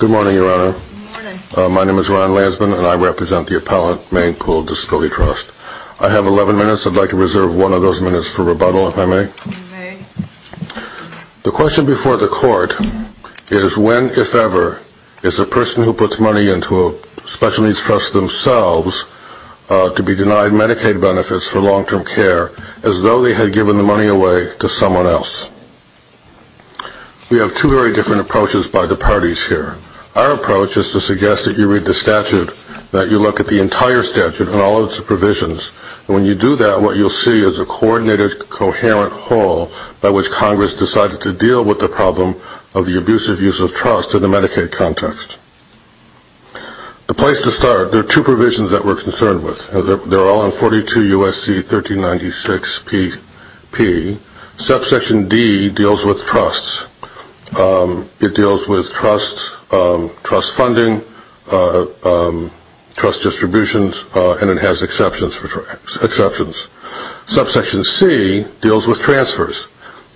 Good morning Your Honor. My name is Ron Lansman and I represent the Appellant Maine Pooled Disability Trust. I have 11 minutes. I'd like to reserve one of those minutes for rebuttal, if I may. The question before the court is when, if ever, is a person who puts money into a special needs trust themselves to be denied Medicaid benefits for long-term care as though they had given the money away to someone else. We have two very different approaches by the parties here. Our approach is to suggest that you read the statute, that you look at the entire statute and all of its provisions. When you do that, what you'll see is a coordinated, coherent whole by which Congress decided to deal with the problem of the abusive use of trust in the Medicaid context. The place to start, there are two provisions that we're concerned with. They're all in 42 U.S.C. 1396 P. Subsection D deals with trusts. It deals with trust funding, trust distributions, and it has exceptions. Subsection C deals with transfers.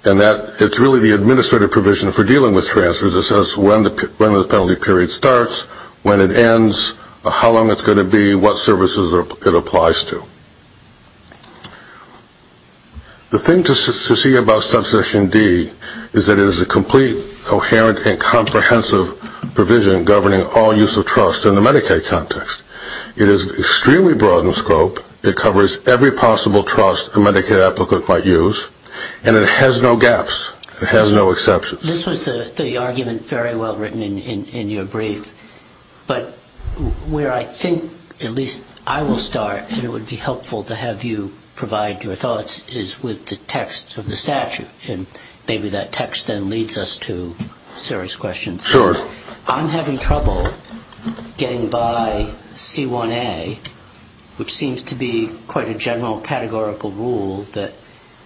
It's really the administrative provision for dealing with transfers. It says when the penalty period starts, when it ends, how long it's going to be, what services it applies to. The thing to see about Subsection D is that it is a complete, coherent, and comprehensive provision governing all use of trust in the Medicaid context. It is extremely broad in scope. It covers every possible trust a Medicaid applicant might use, and it has no gaps. It has no exceptions. This was the argument very well written in your brief, but where I think at least I will start, and it would be helpful to have you provide your thoughts, is with the text of the statute, and maybe that text then leads us to serious questions. Sure. I'm having trouble getting by C1A, which seems to be quite a general categorical rule that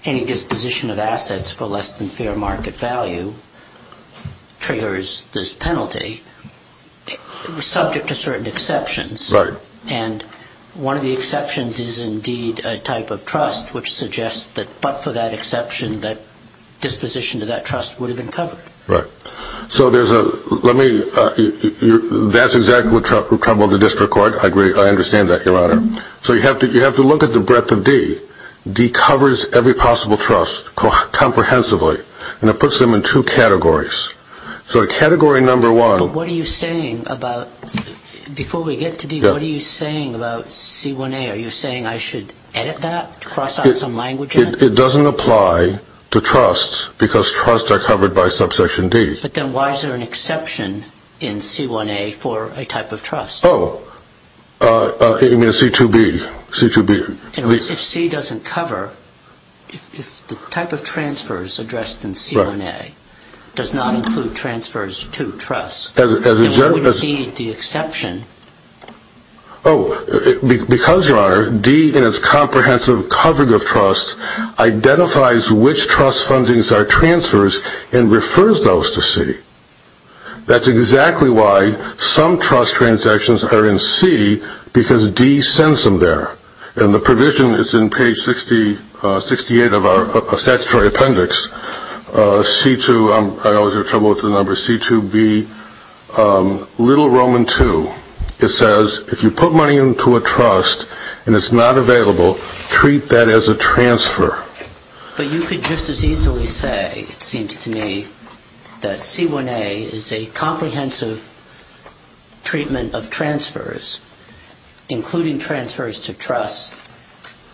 any disposition of assets for less than fair market value triggers this penalty, subject to certain exceptions. Right. And one of the exceptions is indeed a type of trust, which suggests that but for that exception, that disposition to that trust would have been covered. Right. So that's exactly what troubled the district court. I understand that, Your Honor. So you have to look at the breadth of D. D covers every possible trust comprehensively, and it puts them in two categories. So category number one... But what are you saying about, before we get to D, what are you saying about C1A? Are you saying I should edit that, cross out some language in it? It doesn't apply to trusts because trusts are covered by subsection D. But then why is there an exception in C1A for a type of trust? Oh, I mean C2B. C2B. If C doesn't cover, if the type of transfers addressed in C1A does not include transfers to trusts, then what would be the exception? Oh, because, Your Honor, D in its comprehensive covering of trusts identifies which trust fundings are transfers and refers those to C. That's exactly why some trust transactions are in C because D sends them there. And the provision is in page 68 of our statutory appendix. C2, I always have trouble with the numbers, C2B, Little Roman 2. It says if you put money into a trust and it's not available, treat that as a transfer. But you could just as easily say, it seems to me, that C1A is a comprehensive treatment of transfers, including transfers to trusts,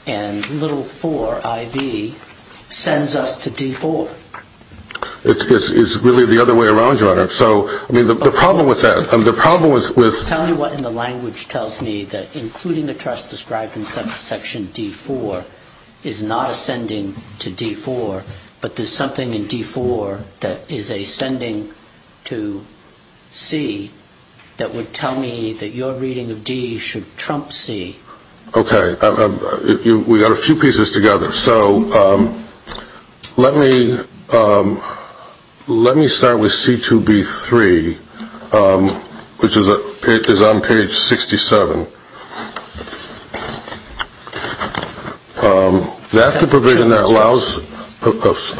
and Little IV sends us to D4. It's really the other way around, Your Honor. So the problem with that, the problem with Tell me what in the language tells me that including the trust described in subsection D4 is not a sending to D4, but there's something in D4 that is a sending to C that would tell me that your reading of D should trump C. Okay, we've got a few pieces together. So let me start with C2B3, which is on page 67. That's the provision that allows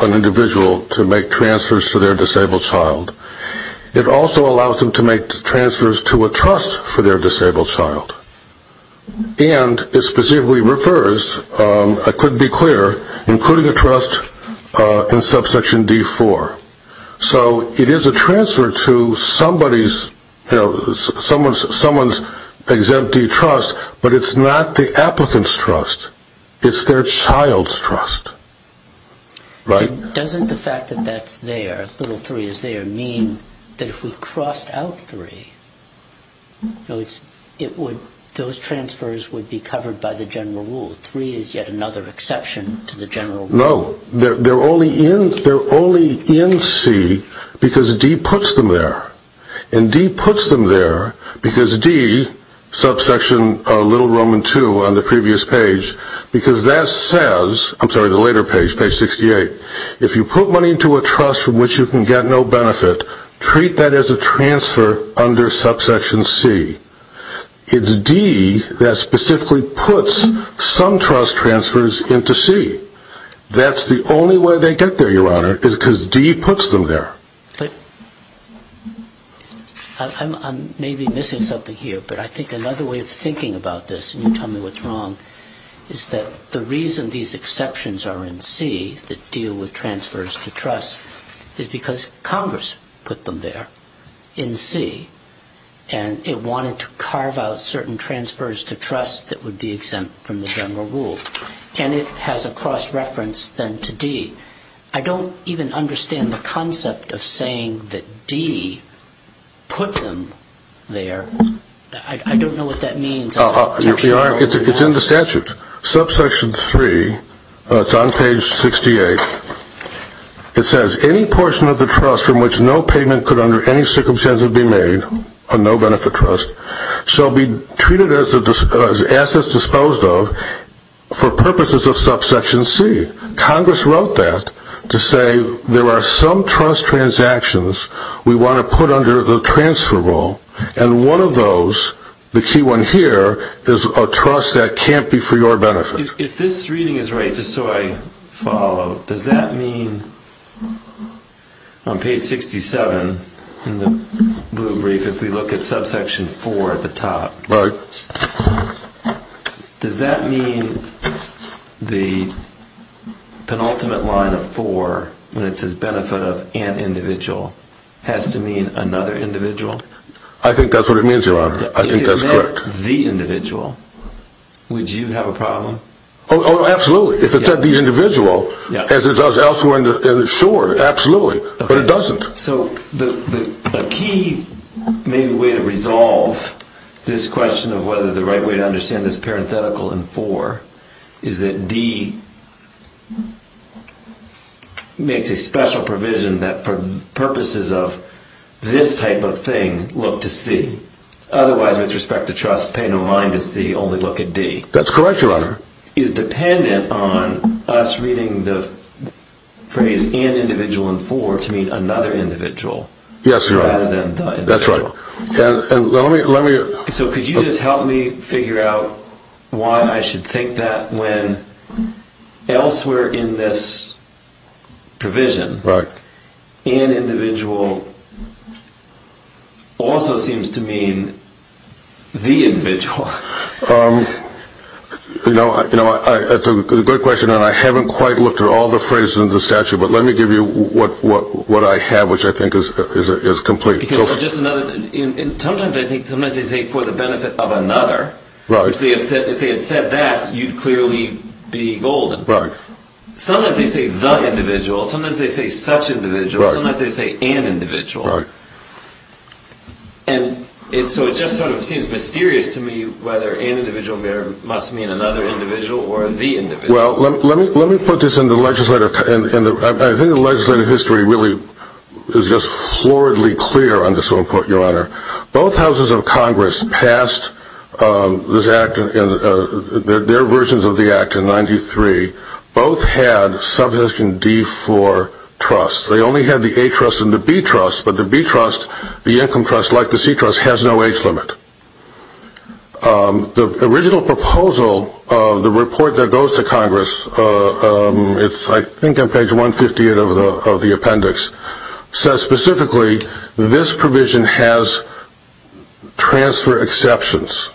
an individual to make transfers to their disabled child. It also allows them to make transfers to a trust for their disabled child. And it specifically refers, I couldn't be clearer, including a trust in subsection D4. So it is a transfer to somebody's, someone's exempt D trust, but it's not the applicant's trust. It's their child's trust. Right. Doesn't the fact that that's there, Little III is there, mean that if we crossed out III, those transfers would be covered by the general rule, III is yet another exception to the general rule? No. They're only in C because D puts them there. And D puts them there because D, subsection Little Roman II on the previous page, because that says, I'm sorry, the later page, page 68, if you put money into a trust from which you can get no benefit, treat that as a transfer under subsection C. It's D that specifically puts some trust transfers into C. That's the only way they get there, Your Honor, is because D puts them there. I'm maybe missing something here, but I think another way of thinking about this, and you tell me what's wrong, is that the reason these exceptions are in C, that deal with transfers to trust, is because Congress put them there in C. And it wanted to carve out certain transfers to trust that would be exempt from the general rule. And it has a cross-reference then to D. I don't even understand the concept of saying that D put them there. I don't know what that means. Your Honor, it's in the statute. Subsection III, it's on page 68. It says, any portion of the trust from which no payment could under any circumstances be made, a no-benefit trust, shall be treated as assets disposed of for purposes of subsection C. Congress wrote that to say there are some trust transactions we want to put under the transfer rule, and one of those, the key one here, is a trust that can't be for your benefit. If this reading is right, just so I follow, does that mean on page 67 in the blue brief, if we look at subsection IV at the top, does that mean the penultimate line of IV, when it says benefit of an individual, has to mean another individual? I think that's what it means, Your Honor. I think that's correct. If it meant the individual, would you have a problem? Oh, absolutely. If it said the individual, as it does elsewhere in the shore, absolutely. But it doesn't. So the key maybe way to resolve this question of whether the right way to understand this parenthetical in IV is that D makes a special provision that for purposes of this type of thing, look to C. Otherwise, with respect to trust, pay no mind to C, only look at D. That's correct, Your Honor. Is dependent on us reading the phrase an individual in IV to mean another individual? Yes, Your Honor. Rather than the individual. That's right. So could you just help me figure out why I should think that when elsewhere in this provision, an individual also seems to mean the individual. That's a good question, and I haven't quite looked at all the phrases in the statute, but let me give you what I have, which I think is complete. Sometimes they say for the benefit of another. If they had said that, you'd clearly be golden. Sometimes they say the individual. Sometimes they say such individual. Sometimes they say an individual. And so it just sort of seems mysterious to me whether an individual must mean another individual or the individual. Well, let me put this in the legislative. I think the legislative history really is just floridly clear on this one point, Your Honor. Both houses of Congress passed their versions of the act in 1993. Both had sub-division D-IV trusts. They only had the A trust and the B trust, but the B trust, the income trust, like the C trust, has no age limit. The original proposal of the report that goes to Congress, it's I think on page 158 of the appendix, says specifically this provision has transfer exceptions.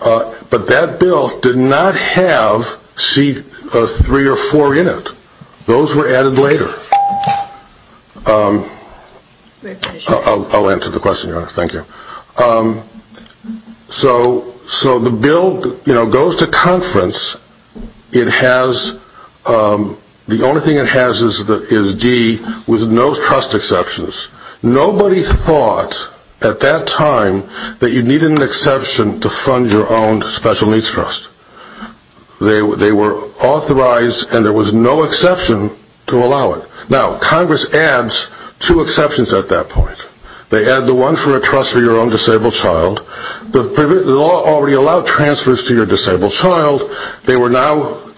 But that bill did not have C-3 or 4 in it. Those were added later. I'll answer the question, Your Honor. Thank you. So the bill goes to conference. The only thing it has is D with no trust exceptions. Nobody thought at that time that you needed an exception to fund your own special needs trust. They were authorized and there was no exception to allow it. Now, Congress adds two exceptions at that point. They add the one for a trust for your own disabled child. The law already allowed transfers to your disabled child.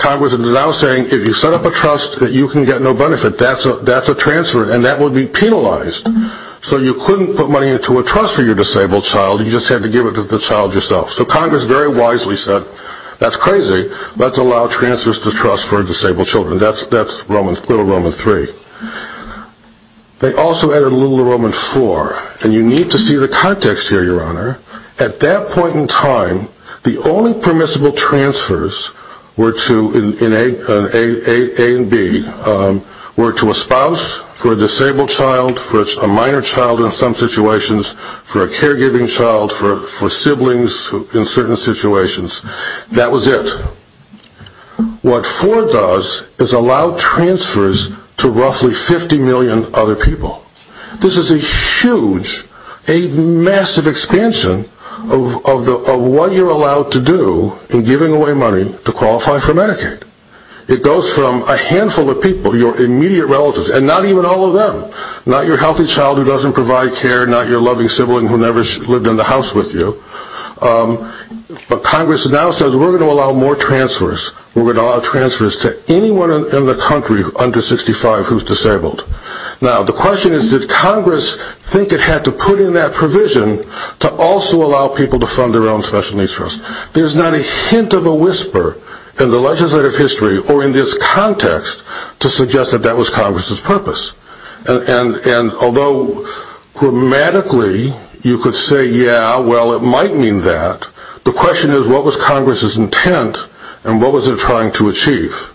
Congress is now saying if you set up a trust that you can get no benefit, that's a transfer and that would be penalized. So you couldn't put money into a trust for your disabled child. You just had to give it to the child yourself. So Congress very wisely said, that's crazy. Let's allow transfers to trust for disabled children. That's Little Roman 3. They also added Little Roman 4. And you need to see the context here, Your Honor. At that point in time, the only permissible transfers were to, in A and B, were to a spouse for a disabled child, for a minor child in some situations, for a caregiving child, for siblings in certain situations. That was it. What 4 does is allow transfers to roughly 50 million other people. This is a huge, a massive expansion of what you're allowed to do in giving away money to qualify for Medicaid. It goes from a handful of people, your immediate relatives, and not even all of them. Not your healthy child who doesn't provide care. Not your loving sibling who never lived in the house with you. But Congress now says, we're going to allow more transfers. We're going to allow transfers to anyone in the country under 65 who's disabled. Now, the question is, did Congress think it had to put in that provision to also allow people to fund their own special needs trust? There's not a hint of a whisper in the legislative history or in this context to suggest that that was Congress's purpose. And although grammatically you could say, yeah, well, it might mean that, the question is, what was Congress's intent and what was it trying to achieve?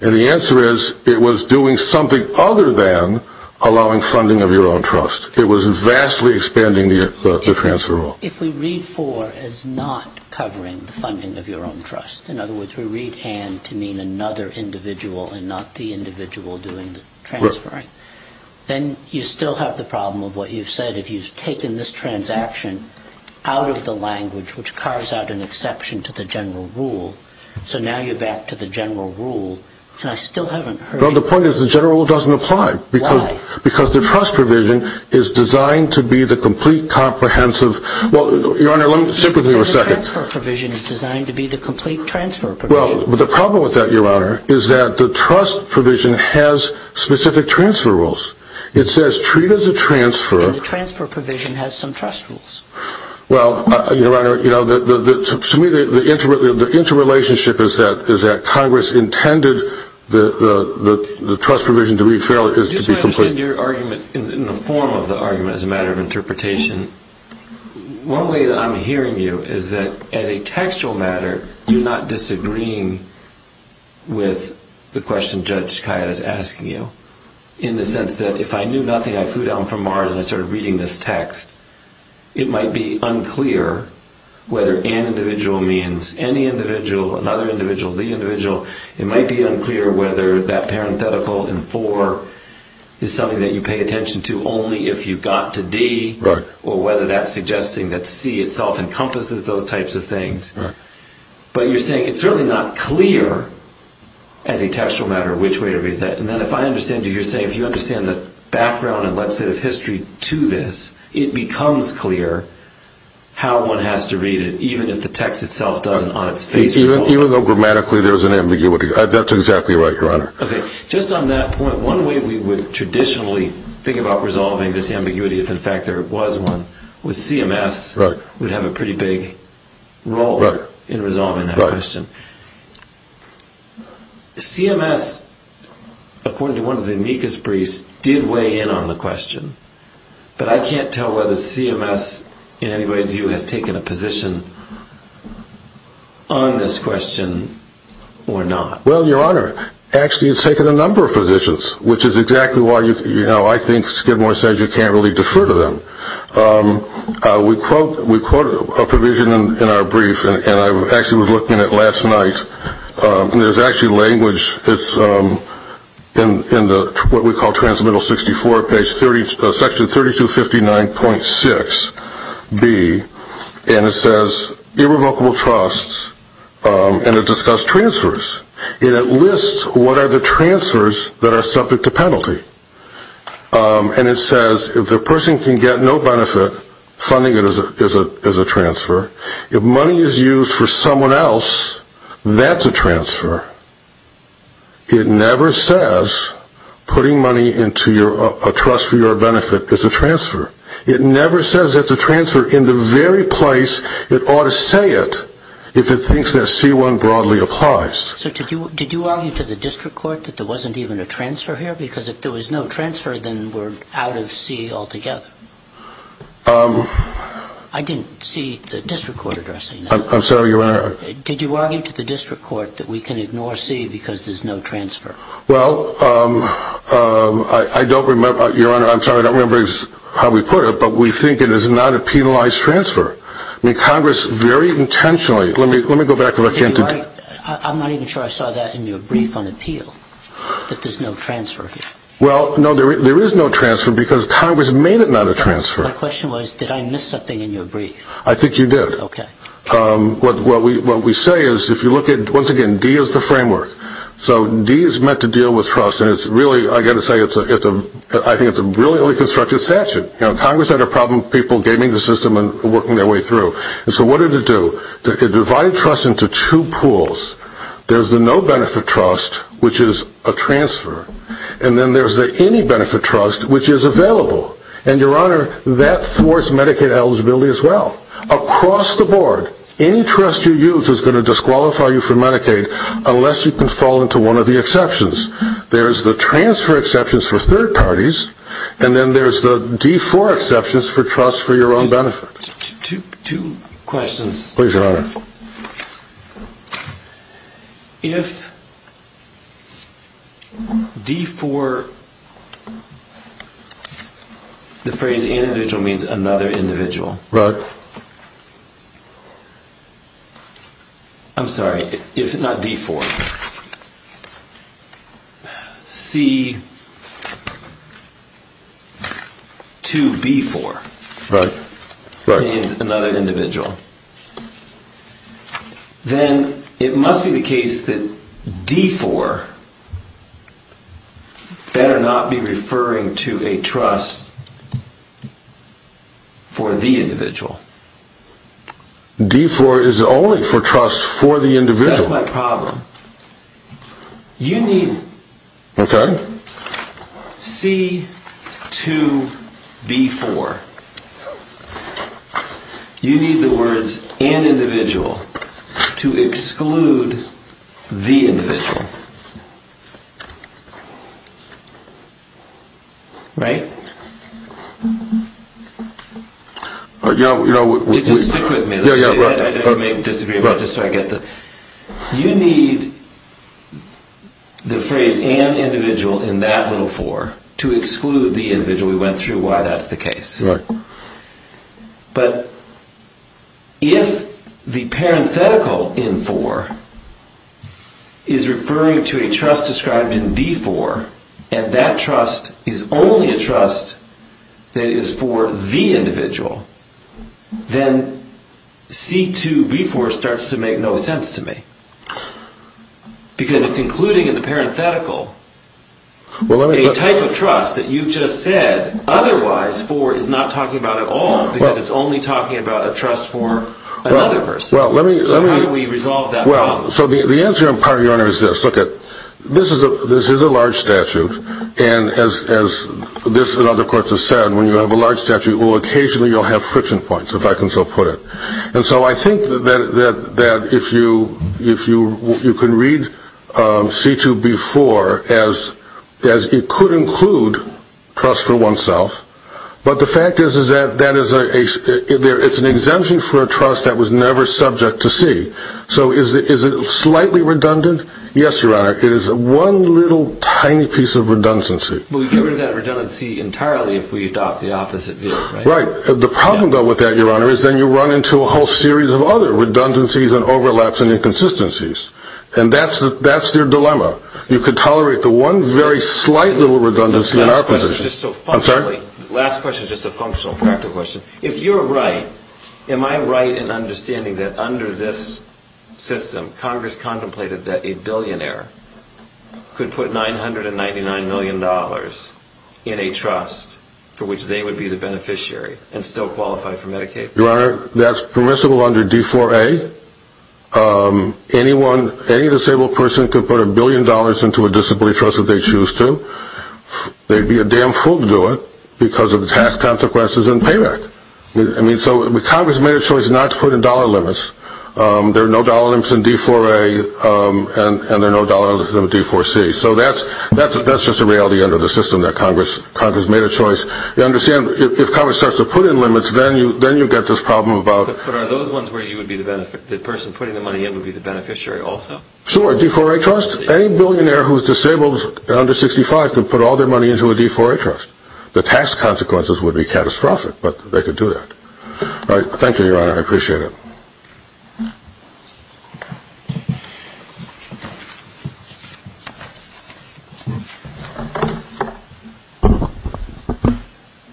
And the answer is, it was doing something other than allowing funding of your own trust. It was vastly expanding the transfer law. If we read 4 as not covering the funding of your own trust, in other words, we read and to mean another individual and not the individual doing the transferring, then you still have the problem of what you've said. If you've taken this transaction out of the language, which carves out an exception to the general rule, so now you're back to the general rule, and I still haven't heard you. Well, the point is the general rule doesn't apply. Why? Because the trust provision is designed to be the complete comprehensive. Well, Your Honor, let me sit with you a second. The transfer provision is designed to be the complete transfer provision. Well, the problem with that, Your Honor, is that the trust provision has specific transfer rules. It says treat as a transfer. And the transfer provision has some trust rules. Well, Your Honor, to me the interrelationship is that Congress intended the trust provision to be complete. Just so I understand your argument in the form of the argument as a matter of interpretation, one way that I'm hearing you is that as a textual matter, you're not disagreeing with the question Judge Skiatt is asking you, in the sense that if I knew nothing, I flew down from Mars, and I started reading this text, it might be unclear whether an individual means any individual, another individual, the individual. It might be unclear whether that parenthetical in four is something that you pay attention to only if you got to D or whether that's suggesting that C itself encompasses those types of things. But you're saying it's certainly not clear as a textual matter which way to read that. And then if I understand you, you're saying if you understand the background and legislative history to this, it becomes clear how one has to read it, even if the text itself doesn't on its face resolve it. Even though grammatically there's an ambiguity. That's exactly right, Your Honor. Okay, just on that point, one way we would traditionally think about resolving this ambiguity, if in fact there was one, was CMS would have a pretty big role in resolving that question. CMS, according to one of the amicus briefs, did weigh in on the question, but I can't tell whether CMS, in any way's view, has taken a position on this question or not. Well, Your Honor, actually it's taken a number of positions, which is exactly why I think Skidmore says you can't really defer to them. We quote a provision in our brief, and I actually was looking at it last night, and there's actually language in what we call Transmittal 64, section 3259.6b, and it says irrevocable trusts, and it discussed transfers. And it lists what are the transfers that are subject to penalty. And it says if the person can get no benefit, funding it is a transfer. If money is used for someone else, that's a transfer. It never says putting money into a trust for your benefit is a transfer. It never says it's a transfer in the very place it ought to say it if it thinks that C1 broadly applies. So did you argue to the district court that there wasn't even a transfer here? Because if there was no transfer, then we're out of C altogether. I didn't see the district court addressing that. I'm sorry, Your Honor. Did you argue to the district court that we can ignore C because there's no transfer? Well, I don't remember, Your Honor, I'm sorry, I don't remember how we put it, but we think it is not a penalized transfer. I mean, Congress very intentionally, let me go back to what I came to do. I'm not even sure I saw that in your brief on appeal, that there's no transfer here. Well, no, there is no transfer because Congress made it not a transfer. My question was, did I miss something in your brief? I think you did. Okay. What we say is if you look at, once again, D is the framework. So D is meant to deal with trust, and it's really, I've got to say, I think it's a brilliantly constructed statute. Congress had a problem with people gaming the system and working their way through. So what did it do? It divided trust into two pools. There's the no benefit trust, which is a transfer, and then there's the any benefit trust, which is available. And, Your Honor, that thwarts Medicaid eligibility as well. Across the board, any trust you use is going to disqualify you from Medicaid unless you can fall into one of the exceptions. There's the transfer exceptions for third parties, and then there's the D4 exceptions for trust for your own benefit. Two questions. Please, Your Honor. If D4, the phrase individual means another individual. Right. If D4, I'm sorry, if not D4, C2B4. Right, right. Means another individual. Then it must be the case that D4 better not be referring to a trust for the individual. D4 is only for trust for the individual. That's my problem. You need C2B4. You need the words an individual to exclude the individual. Right? Just stick with me. I may disagree, but just so I get the... You need the phrase an individual in that little four to exclude the individual. So we went through why that's the case. But if the parenthetical in for is referring to a trust described in D4, and that trust is only a trust that is for the individual, then C2B4 starts to make no sense to me. Because it's including in the parenthetical a type of trust that you just said otherwise for is not talking about at all, because it's only talking about a trust for another person. So how do we resolve that problem? So the answer, Your Honor, is this. Look, this is a large statute. And as this and other courts have said, when you have a large statute, well, occasionally you'll have friction points, if I can so put it. And so I think that if you can read C2B4 as it could include trust for oneself, but the fact is that it's an exemption for a trust that was never subject to C. So is it slightly redundant? Yes, Your Honor. It is one little tiny piece of redundancy. But we can't get rid of that redundancy entirely if we adopt the opposite view. Right. The problem, though, with that, Your Honor, is then you run into a whole series of other redundancies and overlaps and inconsistencies. And that's your dilemma. You could tolerate the one very slight little redundancy in our position. I'm sorry? Last question is just a functional, practical question. If you're right, am I right in understanding that under this system, Congress contemplated that a billionaire could put $999 million in a trust for which they would be the beneficiary and still qualify for Medicaid? Your Honor, that's permissible under D4A. Any disabled person could put a billion dollars into a disability trust if they choose to. They'd be a damn fool to do it because of the tax consequences and payback. I mean, so Congress made a choice not to put in dollar limits. There are no dollar limits in D4A and there are no dollar limits in D4C. So that's just a reality under the system that Congress made a choice. You understand, if Congress starts to put in limits, then you get this problem about But are those ones where the person putting the money in would be the beneficiary also? Sure. D4A trust. Any billionaire who's disabled under 65 could put all their money into a D4A trust. The tax consequences would be catastrophic, but they could do that. All right. Thank you, Your Honor. I appreciate it.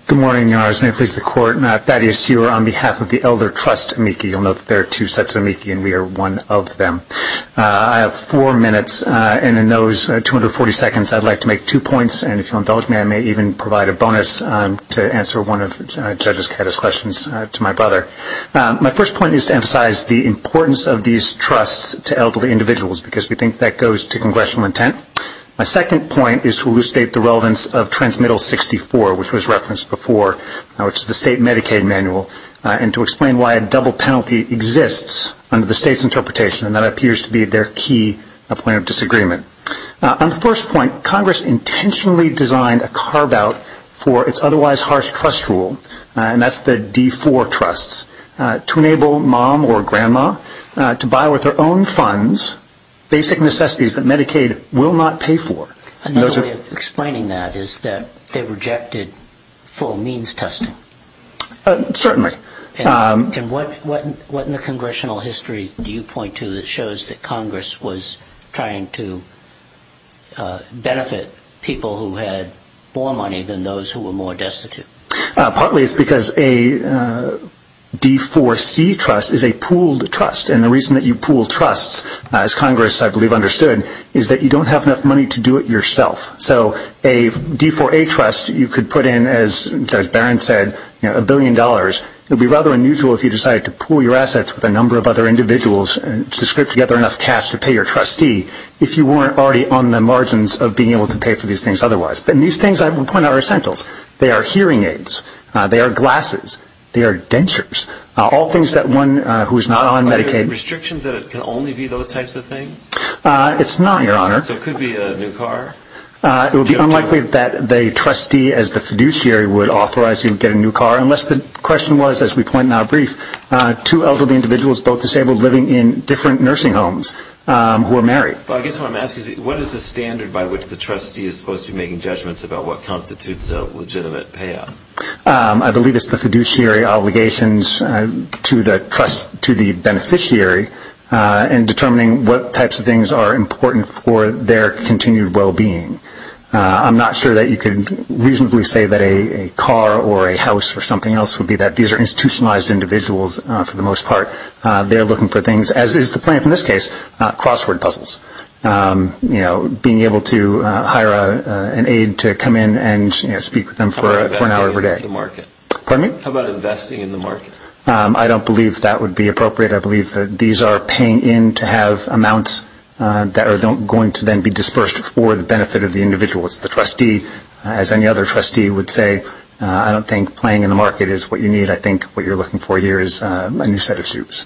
Good morning, Your Honors. May it please the Court. Thaddeus, you are on behalf of the Elder Trust, amici. You'll note that there are two sets of amici and we are one of them. I have four minutes, and in those 240 seconds, I'd like to make two points. And if you'll indulge me, I may even provide a bonus to answer one of Judges Cata's questions to my brother. My first point is to emphasize the importance of these trusts to elderly individuals because we think that goes to congressional intent. My second point is to elucidate the relevance of Transmittal 64, which was referenced before, which is the state Medicaid manual, and to explain why a double penalty exists under the state's interpretation, and that appears to be their key point of disagreement. On the first point, Congress intentionally designed a carve-out for its otherwise harsh trust rule, and that's the D4 trusts, to enable mom or grandma to buy with their own funds basic necessities that Medicaid will not pay for. Another way of explaining that is that they rejected full means testing. Certainly. And what in the congressional history do you point to that shows that Congress was trying to benefit people who had more money than those who were more destitute? Partly it's because a D4C trust is a pooled trust, and the reason that you pool trusts, as Congress, I believe, understood, is that you don't have enough money to do it yourself. So a D4A trust you could put in, as Barron said, a billion dollars. It would be rather unusual if you decided to pool your assets with a number of other individuals to scrape together enough cash to pay your trustee if you weren't already on the margins of being able to pay for these things otherwise. And these things, I would point out, are essentials. They are hearing aids. They are glasses. They are dentures. All things that one who is not on Medicaid. Are there restrictions that it can only be those types of things? It's not, Your Honor. So it could be a new car? It would be unlikely that a trustee as the fiduciary would authorize you to get a new car, unless the question was, as we point out brief, two elderly individuals, both disabled, living in different nursing homes who are married. I guess what I'm asking is what is the standard by which the trustee is supposed to be making judgments about what constitutes a legitimate payout? I believe it's the fiduciary obligations to the beneficiary in determining what types of things are important for their continued well-being. I'm not sure that you could reasonably say that a car or a house or something else would be that. These are institutionalized individuals for the most part. They are looking for things, as is the plaintiff in this case, crossword puzzles. Being able to hire an aide to come in and speak with them for an hour every day. Pardon me? How about investing in the market? I don't believe that would be appropriate. I believe that these are paying in to have amounts that are going to then be dispersed for the benefit of the individuals. The trustee, as any other trustee would say, I don't think playing in the market is what you need. I think what you're looking for here is a new set of shoes.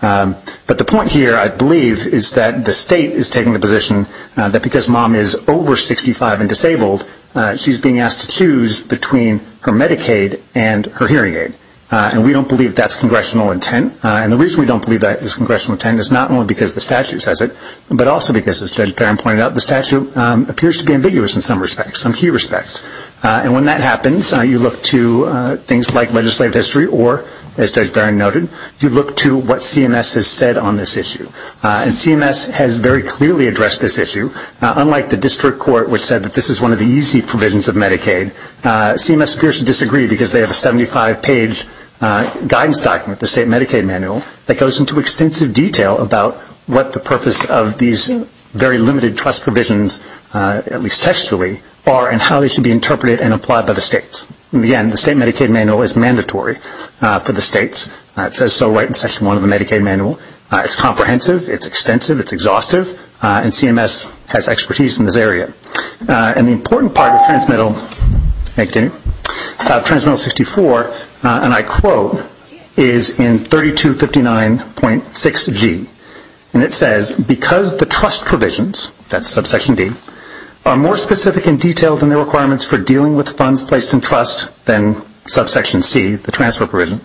But the point here, I believe, is that the state is taking the position that because mom is over 65 and disabled, she's being asked to choose between her Medicaid and her hearing aid. And we don't believe that's congressional intent. And the reason we don't believe that is congressional intent is not only because the statute says it, but also because, as Judge Barron pointed out, the statute appears to be ambiguous in some respects, some key respects. And when that happens, you look to things like legislative history or, as Judge Barron noted, you look to what CMS has said on this issue. And CMS has very clearly addressed this issue. Unlike the district court, which said that this is one of the easy provisions of Medicaid, CMS appears to disagree because they have a 75-page guidance document, the state Medicaid manual, that goes into extensive detail about what the purpose of these very limited trust provisions, at least textually, are and how they should be interpreted and applied by the states. And again, the state Medicaid manual is mandatory for the states. It says so right in Section 1 of the Medicaid manual. It's comprehensive. It's extensive. It's exhaustive. And CMS has expertise in this area. And the important part of Transmittal 64, and I quote, is in 3259.6G. And it says, because the trust provisions, that's subsection D, are more specific and detailed in their requirements for dealing with funds placed in trust than subsection C, the transfer provision,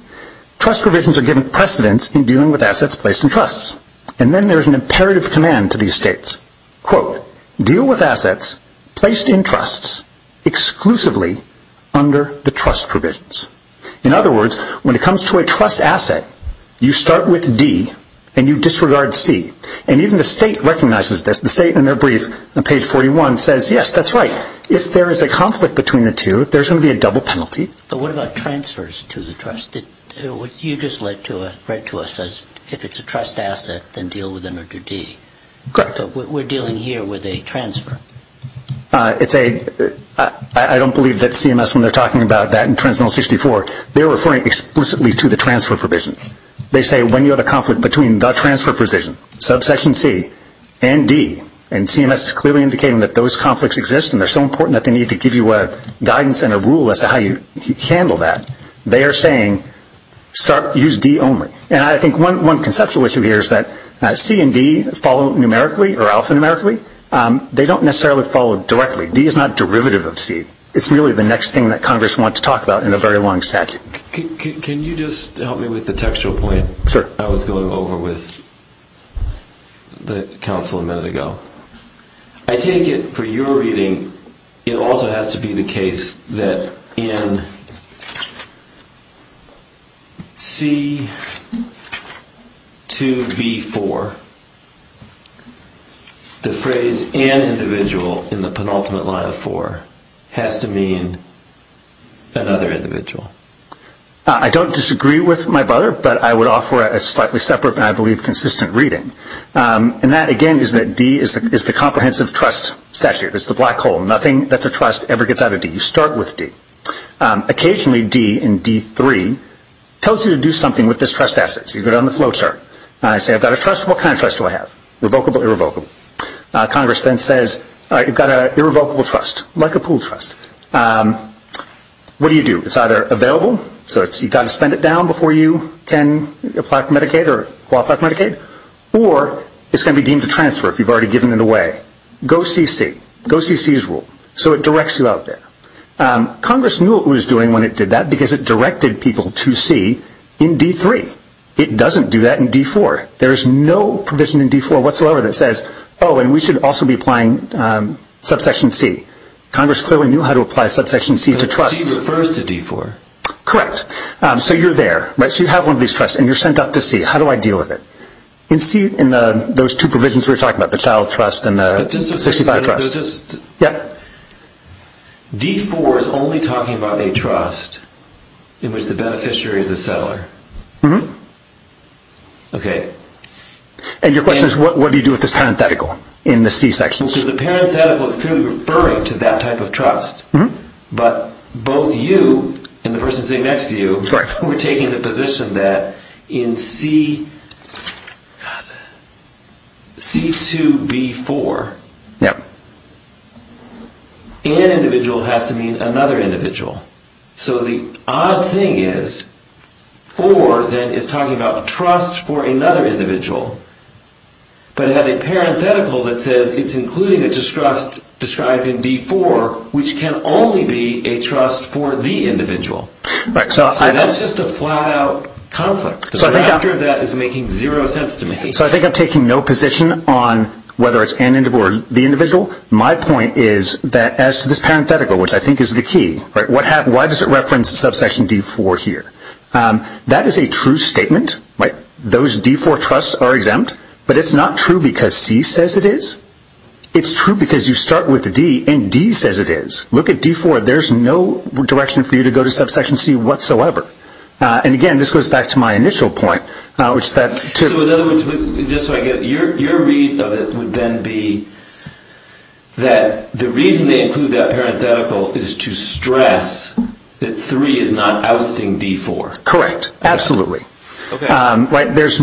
trust provisions are given precedence in dealing with assets placed in trust. And then there is an imperative command to these states. Quote, deal with assets placed in trusts exclusively under the trust provisions. In other words, when it comes to a trust asset, you start with D and you disregard C. And even the state recognizes this. The state in their brief on page 41 says, yes, that's right. If there is a conflict between the two, there's going to be a double penalty. But what about transfers to the trust? You just read to us as if it's a trust asset, then deal with under D. Correct. But we're dealing here with a transfer. I don't believe that CMS, when they're talking about that in Transmittal 64, they're referring explicitly to the transfer provision. They say when you have a conflict between the transfer provision, subsection C and D, and CMS is clearly indicating that those conflicts exist and they're so important that they need to give you a guidance and a rule as to how you handle that. They are saying use D only. And I think one conceptual issue here is that C and D follow numerically or alphanumerically. They don't necessarily follow directly. D is not derivative of C. It's really the next thing that Congress wants to talk about in a very long statute. Can you just help me with the textual point? Sure. I was going over with the counsel a minute ago. I take it for your reading it also has to be the case that in C2B4, the phrase an individual in the penultimate line of four has to mean another individual. I don't disagree with my brother, but I would offer a slightly separate, but I believe consistent reading. And that, again, is that D is the comprehensive trust statute. It's the black hole. Nothing that's a trust ever gets out of D. You start with D. Occasionally D in D3 tells you to do something with this trust asset. So you go down the flow chart. I say I've got a trust. What kind of trust do I have? Revocable, irrevocable. Congress then says, all right, you've got an irrevocable trust, like a pool trust. What do you do? It's either available, so you've got to spend it down before you can apply for Medicaid or qualify for Medicaid, or it's going to be deemed a transfer if you've already given it away. Go see C. Go see C's rule. So it directs you out there. Congress knew what it was doing when it did that because it directed people to C in D3. It doesn't do that in D4. There is no provision in D4 whatsoever that says, oh, and we should also be applying subsection C. Congress clearly knew how to apply subsection C to trusts. But C refers to D4. Correct. So you're there. So you have one of these trusts, and you're sent up to C. How do I deal with it? In those two provisions we were talking about, the child trust and the 65 trust. D4 is only talking about a trust in which the beneficiary is the seller. And your question is, what do you do with this parenthetical in the C section? So the parenthetical is clearly referring to that type of trust, but both you and the person sitting next to you We're taking the position that in C2B4, an individual has to mean another individual. So the odd thing is, 4 then is talking about trust for another individual. But it has a parenthetical that says it's including a distrust described in B4, which can only be a trust for the individual. So that's just a flat-out conflict. The reactor of that is making zero sense to me. So I think I'm taking no position on whether it's an individual or the individual. My point is that as to this parenthetical, which I think is the key, why does it reference subsection D4 here? That is a true statement. Those D4 trusts are exempt. But it's not true because C says it is. It's true because you start with D, and D says it is. Look at D4. There's no direction for you to go to subsection C whatsoever. And again, this goes back to my initial point. So in other words, just so I get it, your read of it would then be that the reason they include that parenthetical is to stress that 3 is not ousting D4. Correct. Absolutely. It's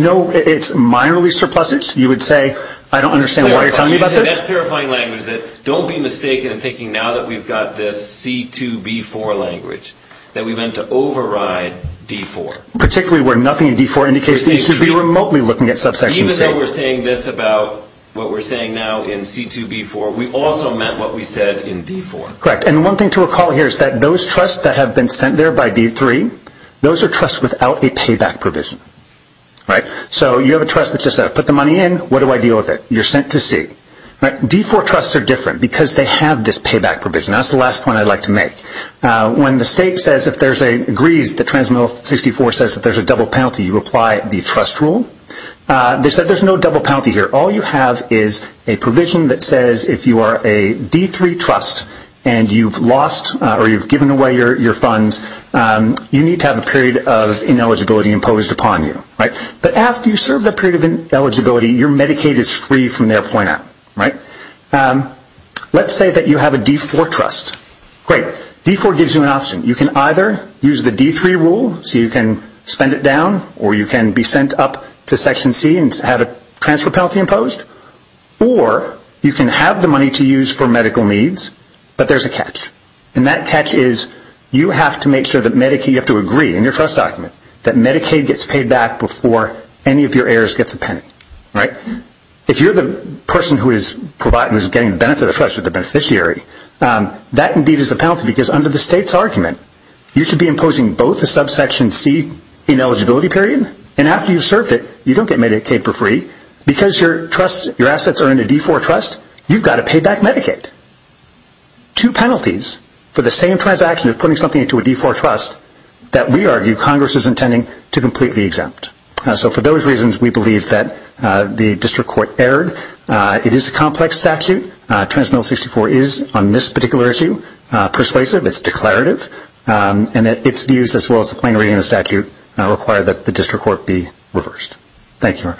minorly surplusage. You would say, I don't understand why you're telling me about this. That's terrifying language. Don't be mistaken in thinking now that we've got this C2B4 language that we meant to override D4. Particularly where nothing in D4 indicates that you should be remotely looking at subsection C. Even though we're saying this about what we're saying now in C2B4, we also meant what we said in D4. Correct. And one thing to recall here is that those trusts that have been sent there by D3, those are trusts without a payback provision. So you have a trust that just says, put the money in. What do I deal with it? You're sent to C. D4 trusts are different because they have this payback provision. That's the last point I'd like to make. When the state agrees that Transmittal 64 says that there's a double penalty, you apply the trust rule. They said there's no double penalty here. All you have is a provision that says if you are a D3 trust and you've lost or you've given away your funds, you need to have a period of ineligibility imposed upon you. But after you serve that period of ineligibility, your Medicaid is free from their point out. Let's say that you have a D4 trust. Great. D4 gives you an option. You can either use the D3 rule so you can spend it down or you can be sent up to Section C and have a transfer penalty imposed. Or you can have the money to use for medical needs, but there's a catch. And that catch is you have to make sure that Medicaid, you have to agree in your trust document, that Medicaid gets paid back before any of your heirs gets a penny. If you're the person who is getting the benefit of the trust with the beneficiary, that indeed is a penalty because under the state's argument, you should be imposing both a subsection C ineligibility period, and after you've served it, you don't get Medicaid for free. Because your assets are in a D4 trust, you've got to pay back Medicaid. Two penalties for the same transaction of putting something into a D4 trust that we argue Congress is intending to completely exempt. So for those reasons, we believe that the district court erred. It is a complex statute. Transmittal 64 is, on this particular issue, persuasive. It's declarative. And its views, as well as the plain reading of the statute, require that the district court be reversed. Thank you.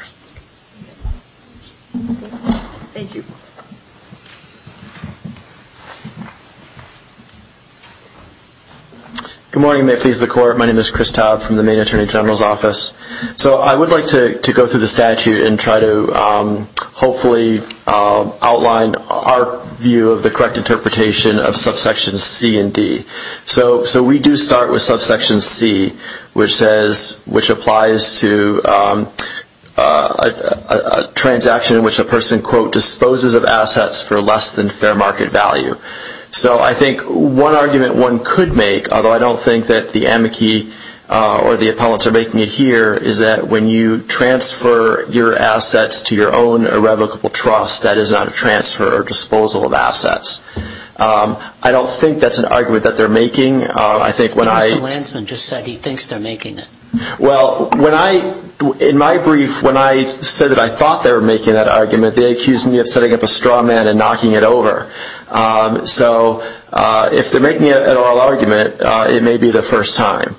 Good morning. May it please the Court. My name is Chris Todd from the Maine Attorney General's Office. So I would like to go through the statute and try to hopefully outline our view of the correct interpretation of subsections C and D. So we do start with subsection C, which says, which applies to Medicaid. A transaction in which a person, quote, disposes of assets for less than fair market value. So I think one argument one could make, although I don't think that the amici or the appellants are making it here, is that when you transfer your assets to your own irrevocable trust, that is not a transfer or disposal of assets. I don't think that's an argument that they're making. I think when I – Mr. Lansman just said he thinks they're making it. Well, when I – in my brief, when I said that I thought they were making that argument, they accused me of setting up a straw man and knocking it over. So if they're making an oral argument, it may be the first time.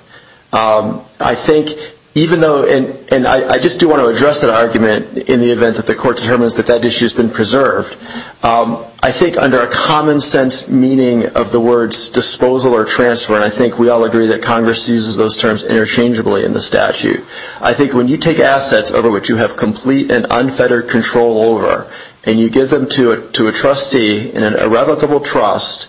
I think even though – and I just do want to address that argument in the event that the Court determines that that issue has been preserved. I think under a common sense meaning of the words disposal or transfer, and I think we all agree that Congress uses those terms interchangeably in the statute, I think when you take assets over which you have complete and unfettered control over and you give them to a trustee in an irrevocable trust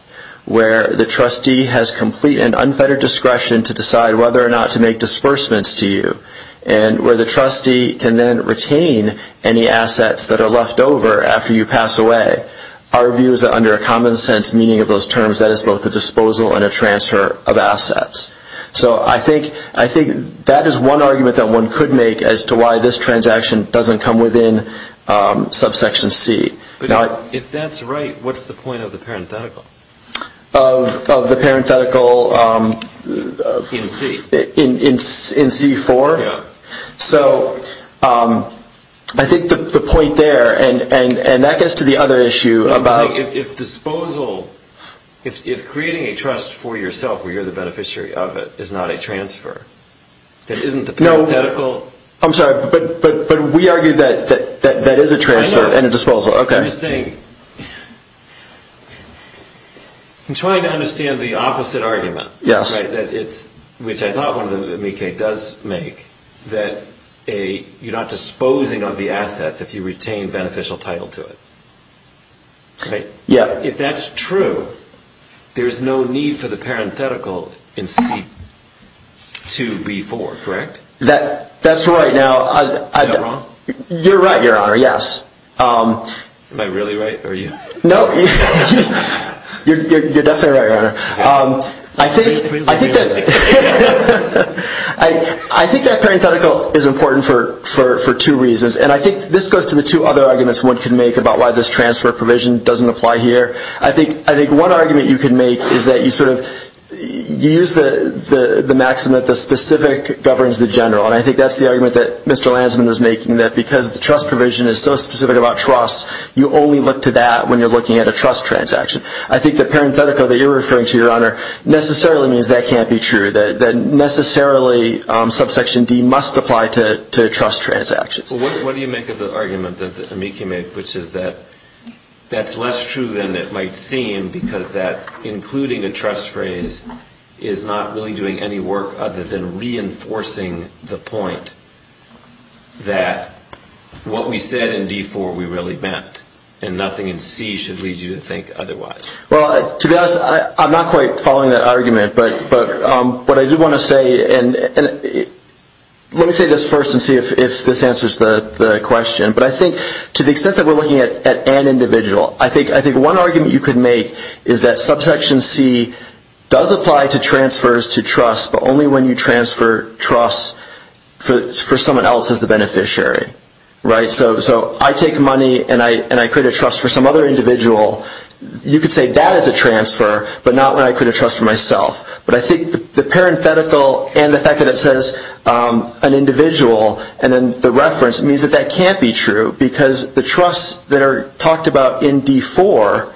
where the trustee has complete and unfettered discretion to decide whether or not to make disbursements to you and where the trustee can then retain any assets that are left over after you pass away, our view is that under a common sense meaning of those terms, that is both a disposal and a transfer of assets. So I think that is one argument that one could make as to why this transaction doesn't come within subsection C. But if that's right, what's the point of the parenthetical? Of the parenthetical – In C. In C-4? Yeah. So I think the point there, and that gets to the other issue about – If disposal, if creating a trust for yourself where you're the beneficiary of it is not a transfer, that isn't the parenthetical – No, I'm sorry, but we argue that that is a transfer and a disposal. I know. Okay. I'm just saying, I'm trying to understand the opposite argument. Yes. Which I thought one of them, Mieke, does make that you're not disposing of the assets if you retain beneficial title to it. Right? Yeah. If that's true, there's no need for the parenthetical in C-2B-4, correct? That's right. Am I wrong? You're right, Your Honor, yes. Am I really right, or are you? No, you're definitely right, Your Honor. I think that parenthetical is important for two reasons, and I think this goes to the two other arguments one could make about why this transfer provision doesn't apply here. I think one argument you could make is that you sort of use the maxim that the specific governs the general, and I think that's the argument that Mr. Lanzman is making, that because the trust provision is so specific about trust, you only look to that when you're looking at a trust transaction. I think the parenthetical that you're referring to, Your Honor, necessarily means that can't be true, that necessarily subsection D must apply to trust transactions. Well, what do you make of the argument that Mieke made, which is that that's less true than it might seem because that including a trust phrase is not really doing any work other than reinforcing the point that what we said in D-4 we really meant, and nothing in C should lead you to think otherwise. Well, to be honest, I'm not quite following that argument, but what I do want to say, and let me say this first and see if this answers the question, but I think to the extent that we're looking at an individual, I think one argument you could make is that subsection C does apply to transfers to trust, but only when you transfer trust for someone else as the beneficiary, right? So I take money and I create a trust for some other individual. You could say that is a transfer, but not when I create a trust for myself. But I think the parenthetical and the fact that it says an individual and then the reference means that that can't be true because the trusts that are talked about in D-4,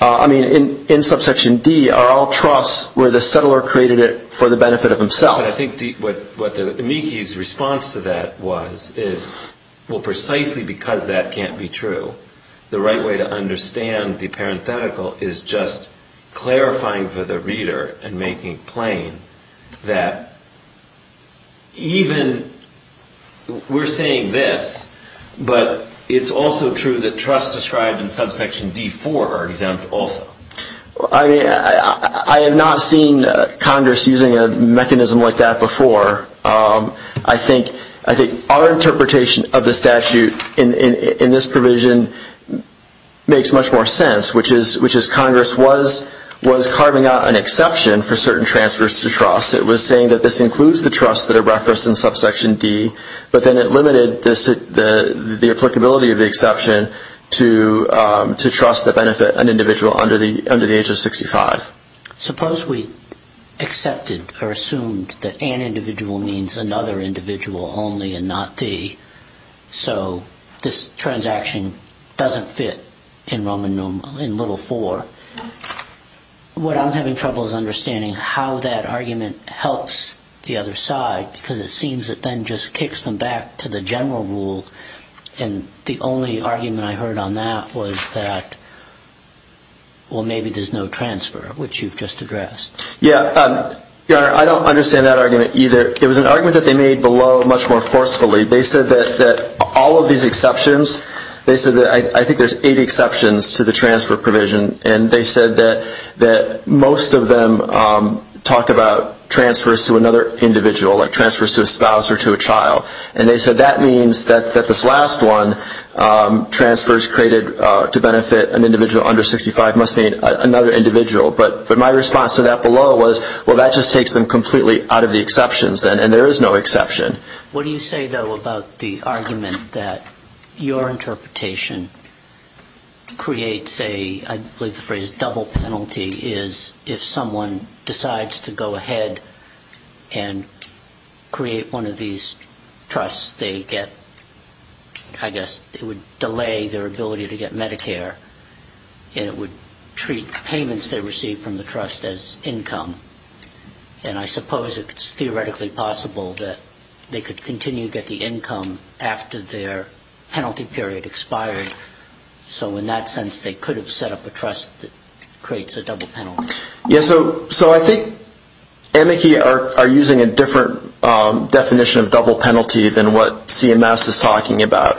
I mean in subsection D, are all trusts where the settler created it for the benefit of himself. But I think what the amici's response to that was is, well, precisely because that can't be true, the right way to understand the parenthetical is just clarifying for the reader and making plain that even we're saying this, but it's also true that trusts described in subsection D-4 are exempt also. I have not seen Congress using a mechanism like that before. I think our interpretation of the statute in this provision makes much more sense, which is Congress was carving out an exception for certain transfers to trust. It was saying that this includes the trusts that are referenced in subsection D, but then it limited the applicability of the exception to trust that benefit an individual under the age of 65. Suppose we accepted or assumed that an individual means another individual only and not the, so this transaction doesn't fit in Little 4. What I'm having trouble is understanding how that argument helps the other side because it seems it then just kicks them back to the general rule, and the only argument I heard on that was that, well, maybe there's no transfer, which you've just addressed. Yeah, Your Honor, I don't understand that argument either. It was an argument that they made below much more forcefully. They said that all of these exceptions, they said that I think there's eight exceptions to the transfer provision, and they said that most of them talk about transfers to another individual, like transfers to a spouse or to a child, and they said that means that this last one, transfers created to benefit an individual under 65 must mean another individual, but my response to that below was, well, that just takes them completely out of the exceptions, and there is no exception. What do you say, though, about the argument that your interpretation creates a, I believe the phrase double penalty, is if someone decides to go ahead and create one of these trusts, they get, I guess, it would delay their ability to get Medicare, and it would treat payments they receive from the trust as income, and I suppose it's theoretically possible that they could continue to get the income after their penalty period expired. So in that sense, they could have set up a trust that creates a double penalty. Yeah, so I think Amici are using a different definition of double penalty than what CMS is talking about.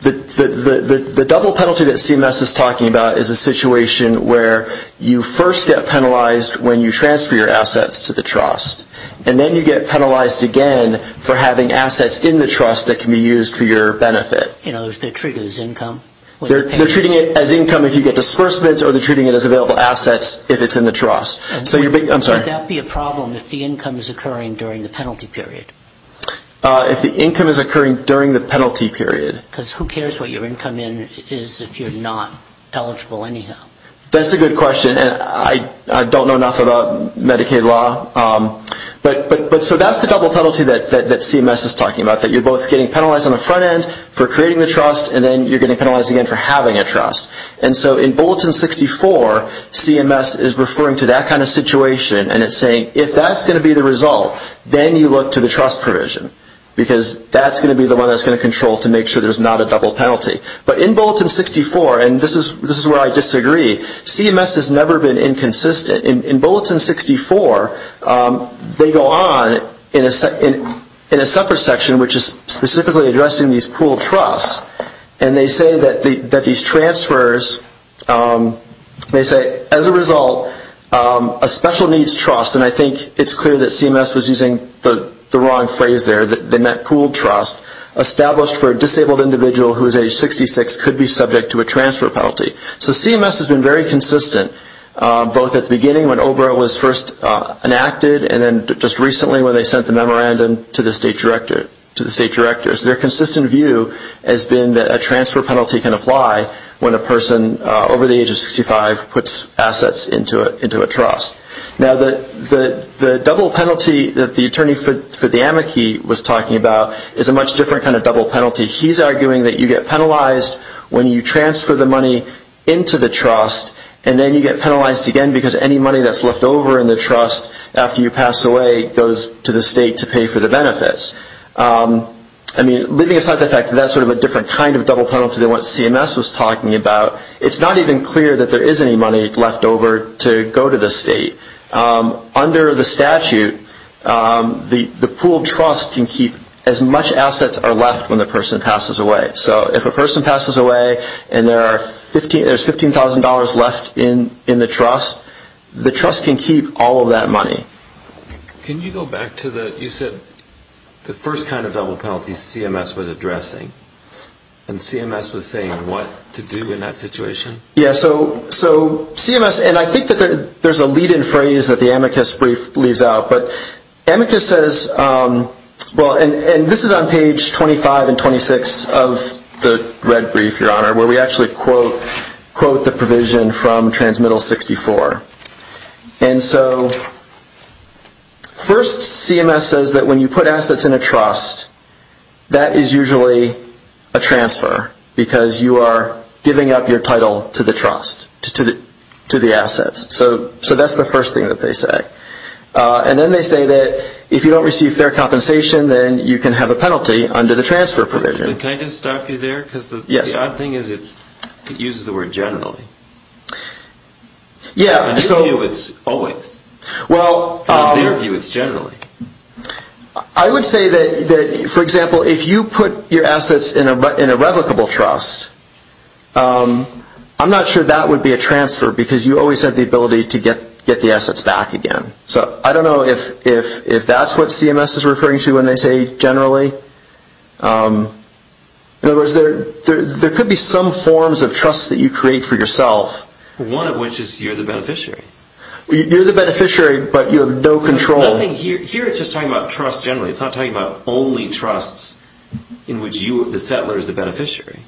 The double penalty that CMS is talking about is a situation where you first get penalized when you transfer your assets to the trust, and then you get penalized again for having assets in the trust that can be used for your benefit. You know, they're treating it as income. They're treating it as income if you get disbursements, or they're treating it as available assets if it's in the trust. Would that be a problem if the income is occurring during the penalty period? If the income is occurring during the penalty period. Because who cares what your income is if you're not eligible anyhow? That's a good question, and I don't know enough about Medicaid law. But so that's the double penalty that CMS is talking about, that you're both getting penalized on the front end for creating the trust, and then you're getting penalized again for having a trust. And so in Bulletin 64, CMS is referring to that kind of situation, and it's saying if that's going to be the result, then you look to the trust provision, because that's going to be the one that's going to control to make sure there's not a double penalty. But in Bulletin 64, and this is where I disagree, CMS has never been inconsistent. In Bulletin 64, they go on in a separate section which is specifically addressing these pooled trusts, and they say that these transfers, they say, as a result, a special needs trust, and I think it's clear that CMS was using the wrong phrase there, that they meant pooled trust, established for a disabled individual who is age 66 could be subject to a transfer penalty. So CMS has been very consistent both at the beginning when OBRA was first enacted and then just recently when they sent the memorandum to the state directors. Their consistent view has been that a transfer penalty can apply when a person over the age of 65 puts assets into a trust. Now, the double penalty that the attorney for the amici was talking about is a much different kind of double penalty. He's arguing that you get penalized when you transfer the money into the trust, and then you get penalized again because any money that's left over in the trust after you pass away goes to the state to pay for the benefits. I mean, leaving aside the fact that that's sort of a different kind of double penalty than what CMS was talking about, it's not even clear that there is any money left over to go to the state. Under the statute, the pooled trust can keep as much assets are left when the person passes away. So if a person passes away and there's $15,000 left in the trust, the trust can keep all of that money. Can you go back to the, you said the first kind of double penalty CMS was addressing, and CMS was saying what to do in that situation? Yeah, so CMS, and I think that there's a lead-in phrase that the amicus brief leaves out, but amicus says, well, and this is on page 25 and 26 of the red brief, Your Honor, where we actually quote the provision from transmittal 64. And so first CMS says that when you put assets in a trust, that is usually a transfer because you are giving up your title to the trust, to the assets. So that's the first thing that they say. And then they say that if you don't receive fair compensation, then you can have a penalty under the transfer provision. Can I just stop you there? Yes. Because the odd thing is it uses the word generally. Yeah, so. In their view, it's always. Well. In their view, it's generally. I would say that, for example, if you put your assets in a replicable trust, I'm not sure that would be a transfer because you always have the ability to get the assets back again. So I don't know if that's what CMS is referring to when they say generally. In other words, there could be some forms of trust that you create for yourself. One of which is you're the beneficiary. You're the beneficiary, but you have no control. Here it's just talking about trust generally. It's not talking about only trusts in which the settler is the beneficiary.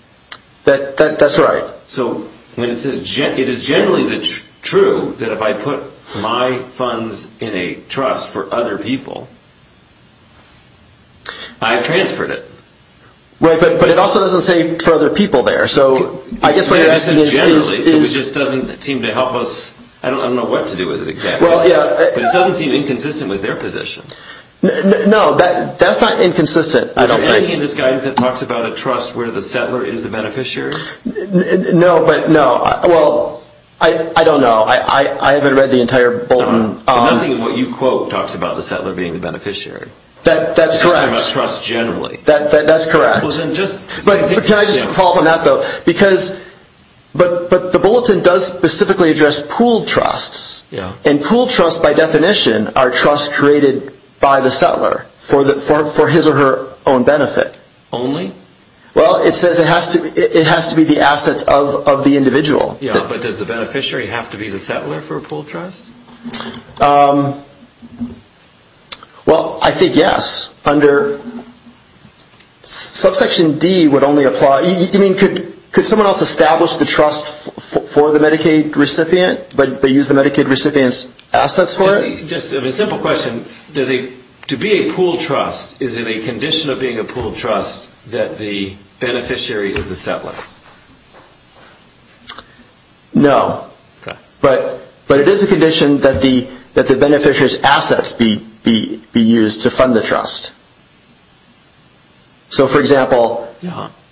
That's right. So it is generally true that if I put my funds in a trust for other people, I've transferred it. Right, but it also doesn't say for other people there. So I guess what you're asking is. It just doesn't seem to help us. I don't know what to do with it exactly. Well, yeah. But it doesn't seem inconsistent with their position. No, that's not inconsistent, I don't think. Is there anything in this guidance that talks about a trust where the settler is the beneficiary? No, but no. Well, I don't know. I haven't read the entire bulletin. Nothing in what you quote talks about the settler being the beneficiary. That's correct. It's just about trust generally. That's correct. Can I just follow up on that, though? Because the bulletin does specifically address pooled trusts. And pooled trusts, by definition, are trusts created by the settler for his or her own benefit. Only? Well, it says it has to be the assets of the individual. Yeah, but does the beneficiary have to be the settler for a pooled trust? Well, I think yes. Subsection D would only apply. I mean, could someone else establish the trust for the Medicaid recipient, but use the Medicaid recipient's assets for it? Just a simple question. To be a pooled trust is in a condition of being a pooled trust that the beneficiary is the settler? No, but it is a condition that the beneficiary's assets be used to fund the trust. So, for example – But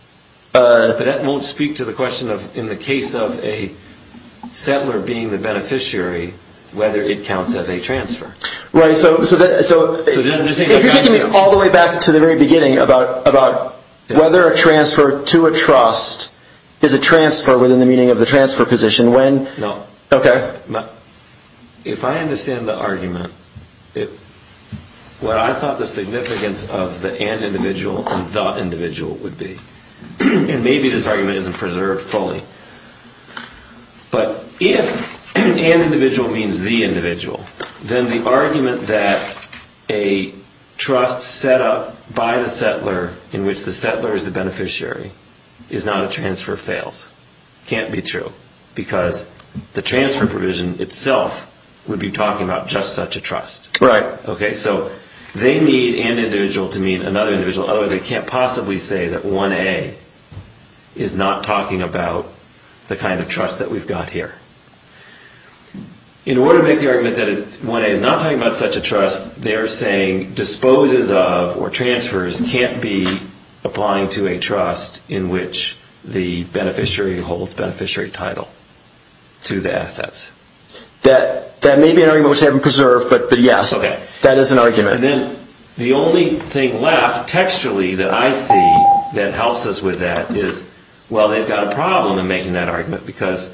that won't speak to the question of in the case of a settler being the beneficiary, whether it counts as a transfer. Right, so if you're taking me all the way back to the very beginning about whether a transfer to a trust is a transfer within the meaning of the transfer position, when – No. Okay. If I understand the argument, what I thought the significance of the and individual and the individual would be, and maybe this argument isn't preserved fully, but if an individual means the individual, then the argument that a trust set up by the settler in which the settler is the beneficiary is not a transfer fails. Can't be true, because the transfer provision itself would be talking about just such a trust. Right. Okay, so they need an individual to mean another individual. Otherwise, they can't possibly say that 1A is not talking about the kind of trust that we've got here. In order to make the argument that 1A is not talking about such a trust, they're saying disposes of or transfers can't be applying to a trust in which the beneficiary holds beneficiary title to the assets. That may be an argument which they haven't preserved, but yes, that is an argument. And then the only thing left textually that I see that helps us with that is, well, they've got a problem in making that argument, because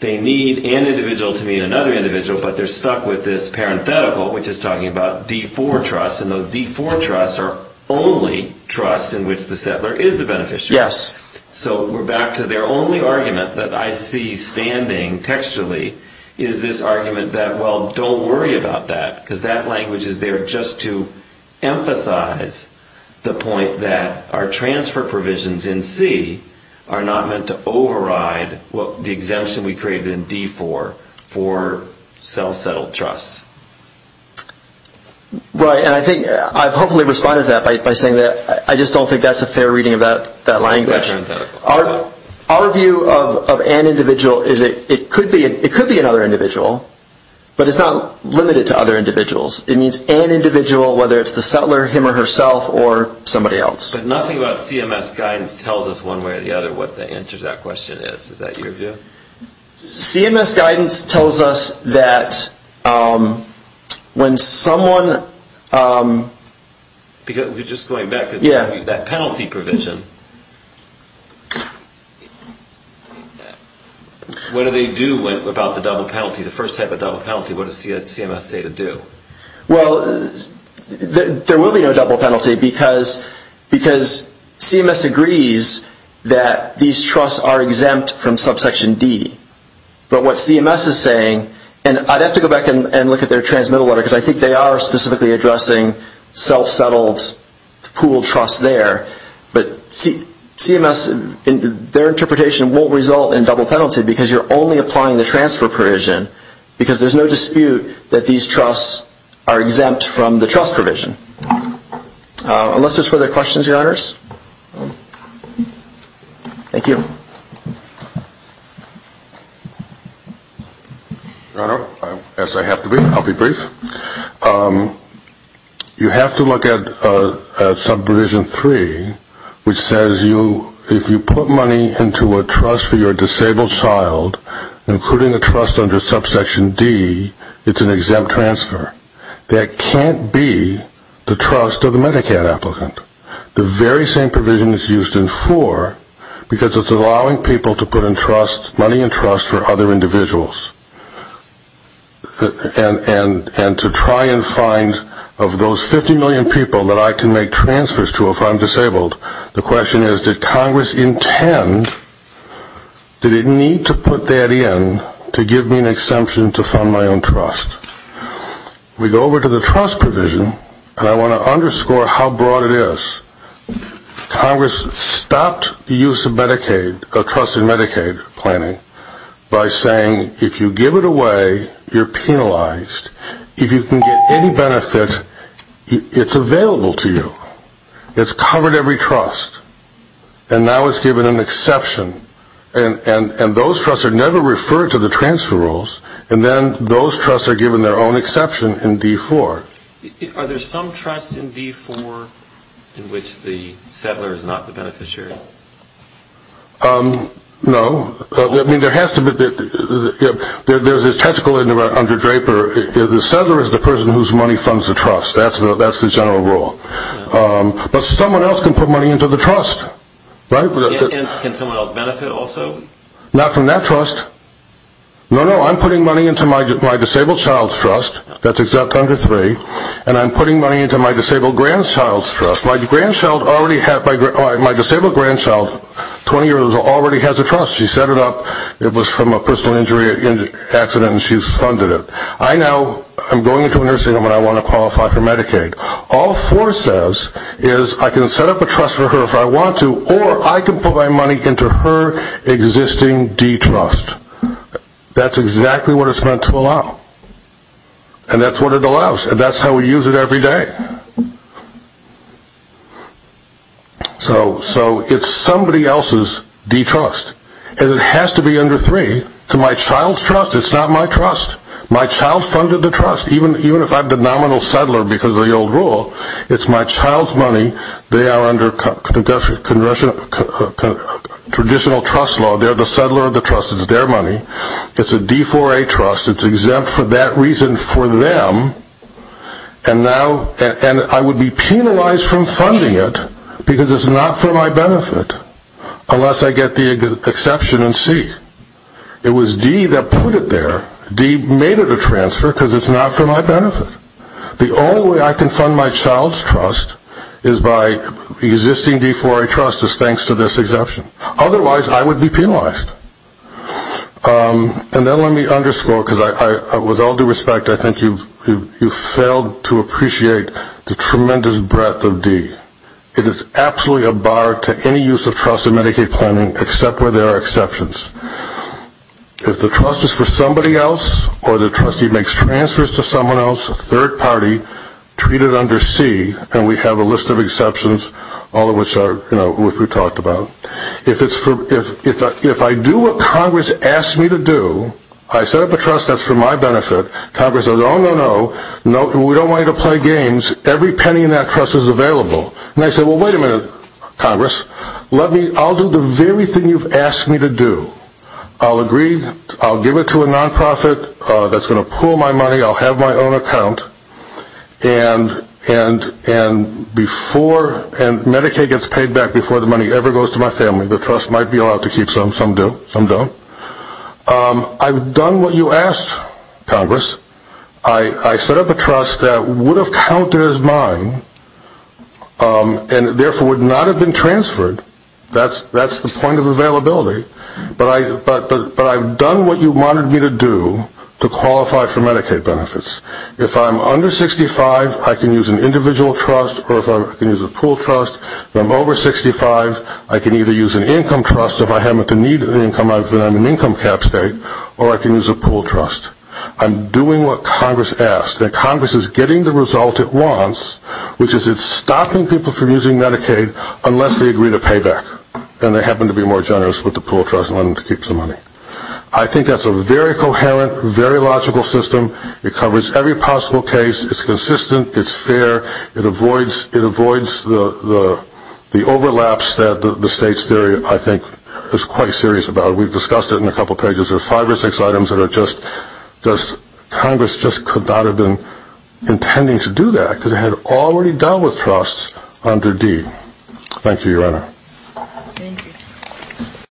they need an individual to mean another individual, but they're stuck with this parenthetical which is talking about D4 trusts, and those D4 trusts are only trusts in which the settler is the beneficiary. Yes. So we're back to their only argument that I see standing textually is this argument that, well, don't worry about that, because that language is there just to emphasize the point that our transfer provisions in C are not meant to override the exemption we created in D4 for self-settled trusts. Right, and I think I've hopefully responded to that by saying that I just don't think that's a fair reading of that language. Our view of an individual is that it could be another individual, but it's not limited to other individuals. It means an individual, whether it's the settler, him or herself, or somebody else. But nothing about CMS guidance tells us one way or the other what the answer to that question is. Is that your view? CMS guidance tells us that when someone... We're just going back to that penalty provision. What do they do about the double penalty, the first type of double penalty? What does CMS say to do? Well, there will be no double penalty because CMS agrees that these trusts are exempt from subsection D. But what CMS is saying, and I'd have to go back and look at their transmittal letter, because I think they are specifically addressing self-settled pooled trusts there, but CMS, their interpretation won't result in double penalty because you're only applying the transfer provision because there's no dispute that these trusts are exempt from the trust provision. Unless there's further questions, Your Honors? Thank you. Your Honor, as I have to be, I'll be brief. You have to look at Subprovision 3, which says if you put money into a trust for your disabled child, including a trust under Subsection D, it's an exempt transfer. That can't be the trust of the Medicaid applicant. The very same provision is used in 4 because it's allowing people to put money in trusts for other individuals. And to try and find, of those 50 million people that I can make transfers to if I'm disabled, the question is did Congress intend, did it need to put that in to give me an exemption to fund my own trust? We go over to the trust provision, and I want to underscore how broad it is. Congress stopped the use of Medicaid, of trusted Medicaid planning, by saying if you give it away, you're penalized. If you can get any benefit, it's available to you. It's covered every trust, and now it's given an exception. And those trusts are never referred to the transfer rules, and then those trusts are given their own exception in D4. Are there some trusts in D4 in which the settler is not the beneficiary? No. I mean, there has to be. There's this technical under Draper. The settler is the person whose money funds the trust. That's the general rule. But someone else can put money into the trust, right? Can someone else benefit also? Not from that trust. No, no. I'm putting money into my disabled child's trust. That's exempt under three. And I'm putting money into my disabled grandchild's trust. My disabled grandchild, 20 years old, already has a trust. She set it up. It was from a personal injury accident, and she's funded it. I now am going into a nursing home, and I want to qualify for Medicaid. All four says is I can set up a trust for her if I want to, or I can put my money into her existing detrust. That's exactly what it's meant to allow. And that's what it allows, and that's how we use it every day. So it's somebody else's detrust. And it has to be under three. It's my child's trust. It's not my trust. My child funded the trust. Even if I'm the nominal settler because of the old rule, it's my child's money. They are under traditional trust law. They're the settler of the trust. It's their money. It's a D4A trust. It's exempt for that reason for them. And I would be penalized from funding it because it's not for my benefit unless I get the exception in C. It was D that put it there. D made it a transfer because it's not for my benefit. The only way I can fund my child's trust is by existing D4A trust is thanks to this exception. Otherwise, I would be penalized. And then let me underscore, because with all due respect, I think you've failed to appreciate the tremendous breadth of D. It is absolutely a bar to any use of trust in Medicaid planning except where there are exceptions. If the trust is for somebody else or the trustee makes transfers to someone else, a third party, treat it under C, and we have a list of exceptions, all of which we've talked about. If I do what Congress asks me to do, I set up a trust that's for my benefit. Congress says, oh, no, no, we don't want you to play games. Every penny in that trust is available. And I say, well, wait a minute, Congress. I'll do the very thing you've asked me to do. I'll agree. I'll give it to a nonprofit that's going to pool my money. I'll have my own account. And Medicaid gets paid back before the money ever goes to my family. The trust might be allowed to keep some. Some don't. I've done what you asked, Congress. I set up a trust that would have counted as mine and, therefore, would not have been transferred. That's the point of availability. But I've done what you wanted me to do to qualify for Medicaid benefits. If I'm under 65, I can use an individual trust or I can use a pool trust. If I'm over 65, I can either use an income trust. If I happen to need an income, I put it on an income cap state, or I can use a pool trust. I'm doing what Congress asked, and Congress is getting the result it wants, which is it's stopping people from using Medicaid unless they agree to pay back. And they happen to be more generous with the pool trust and wanting to keep some money. I think that's a very coherent, very logical system. It covers every possible case. It's consistent. It's fair. It avoids the overlaps that the state's theory, I think, is quite serious about. We've discussed it in a couple pages. There are five or six items that Congress just could not have been intending to do that because it had already dealt with trusts under D. Thank you, Your Honor. Thank you.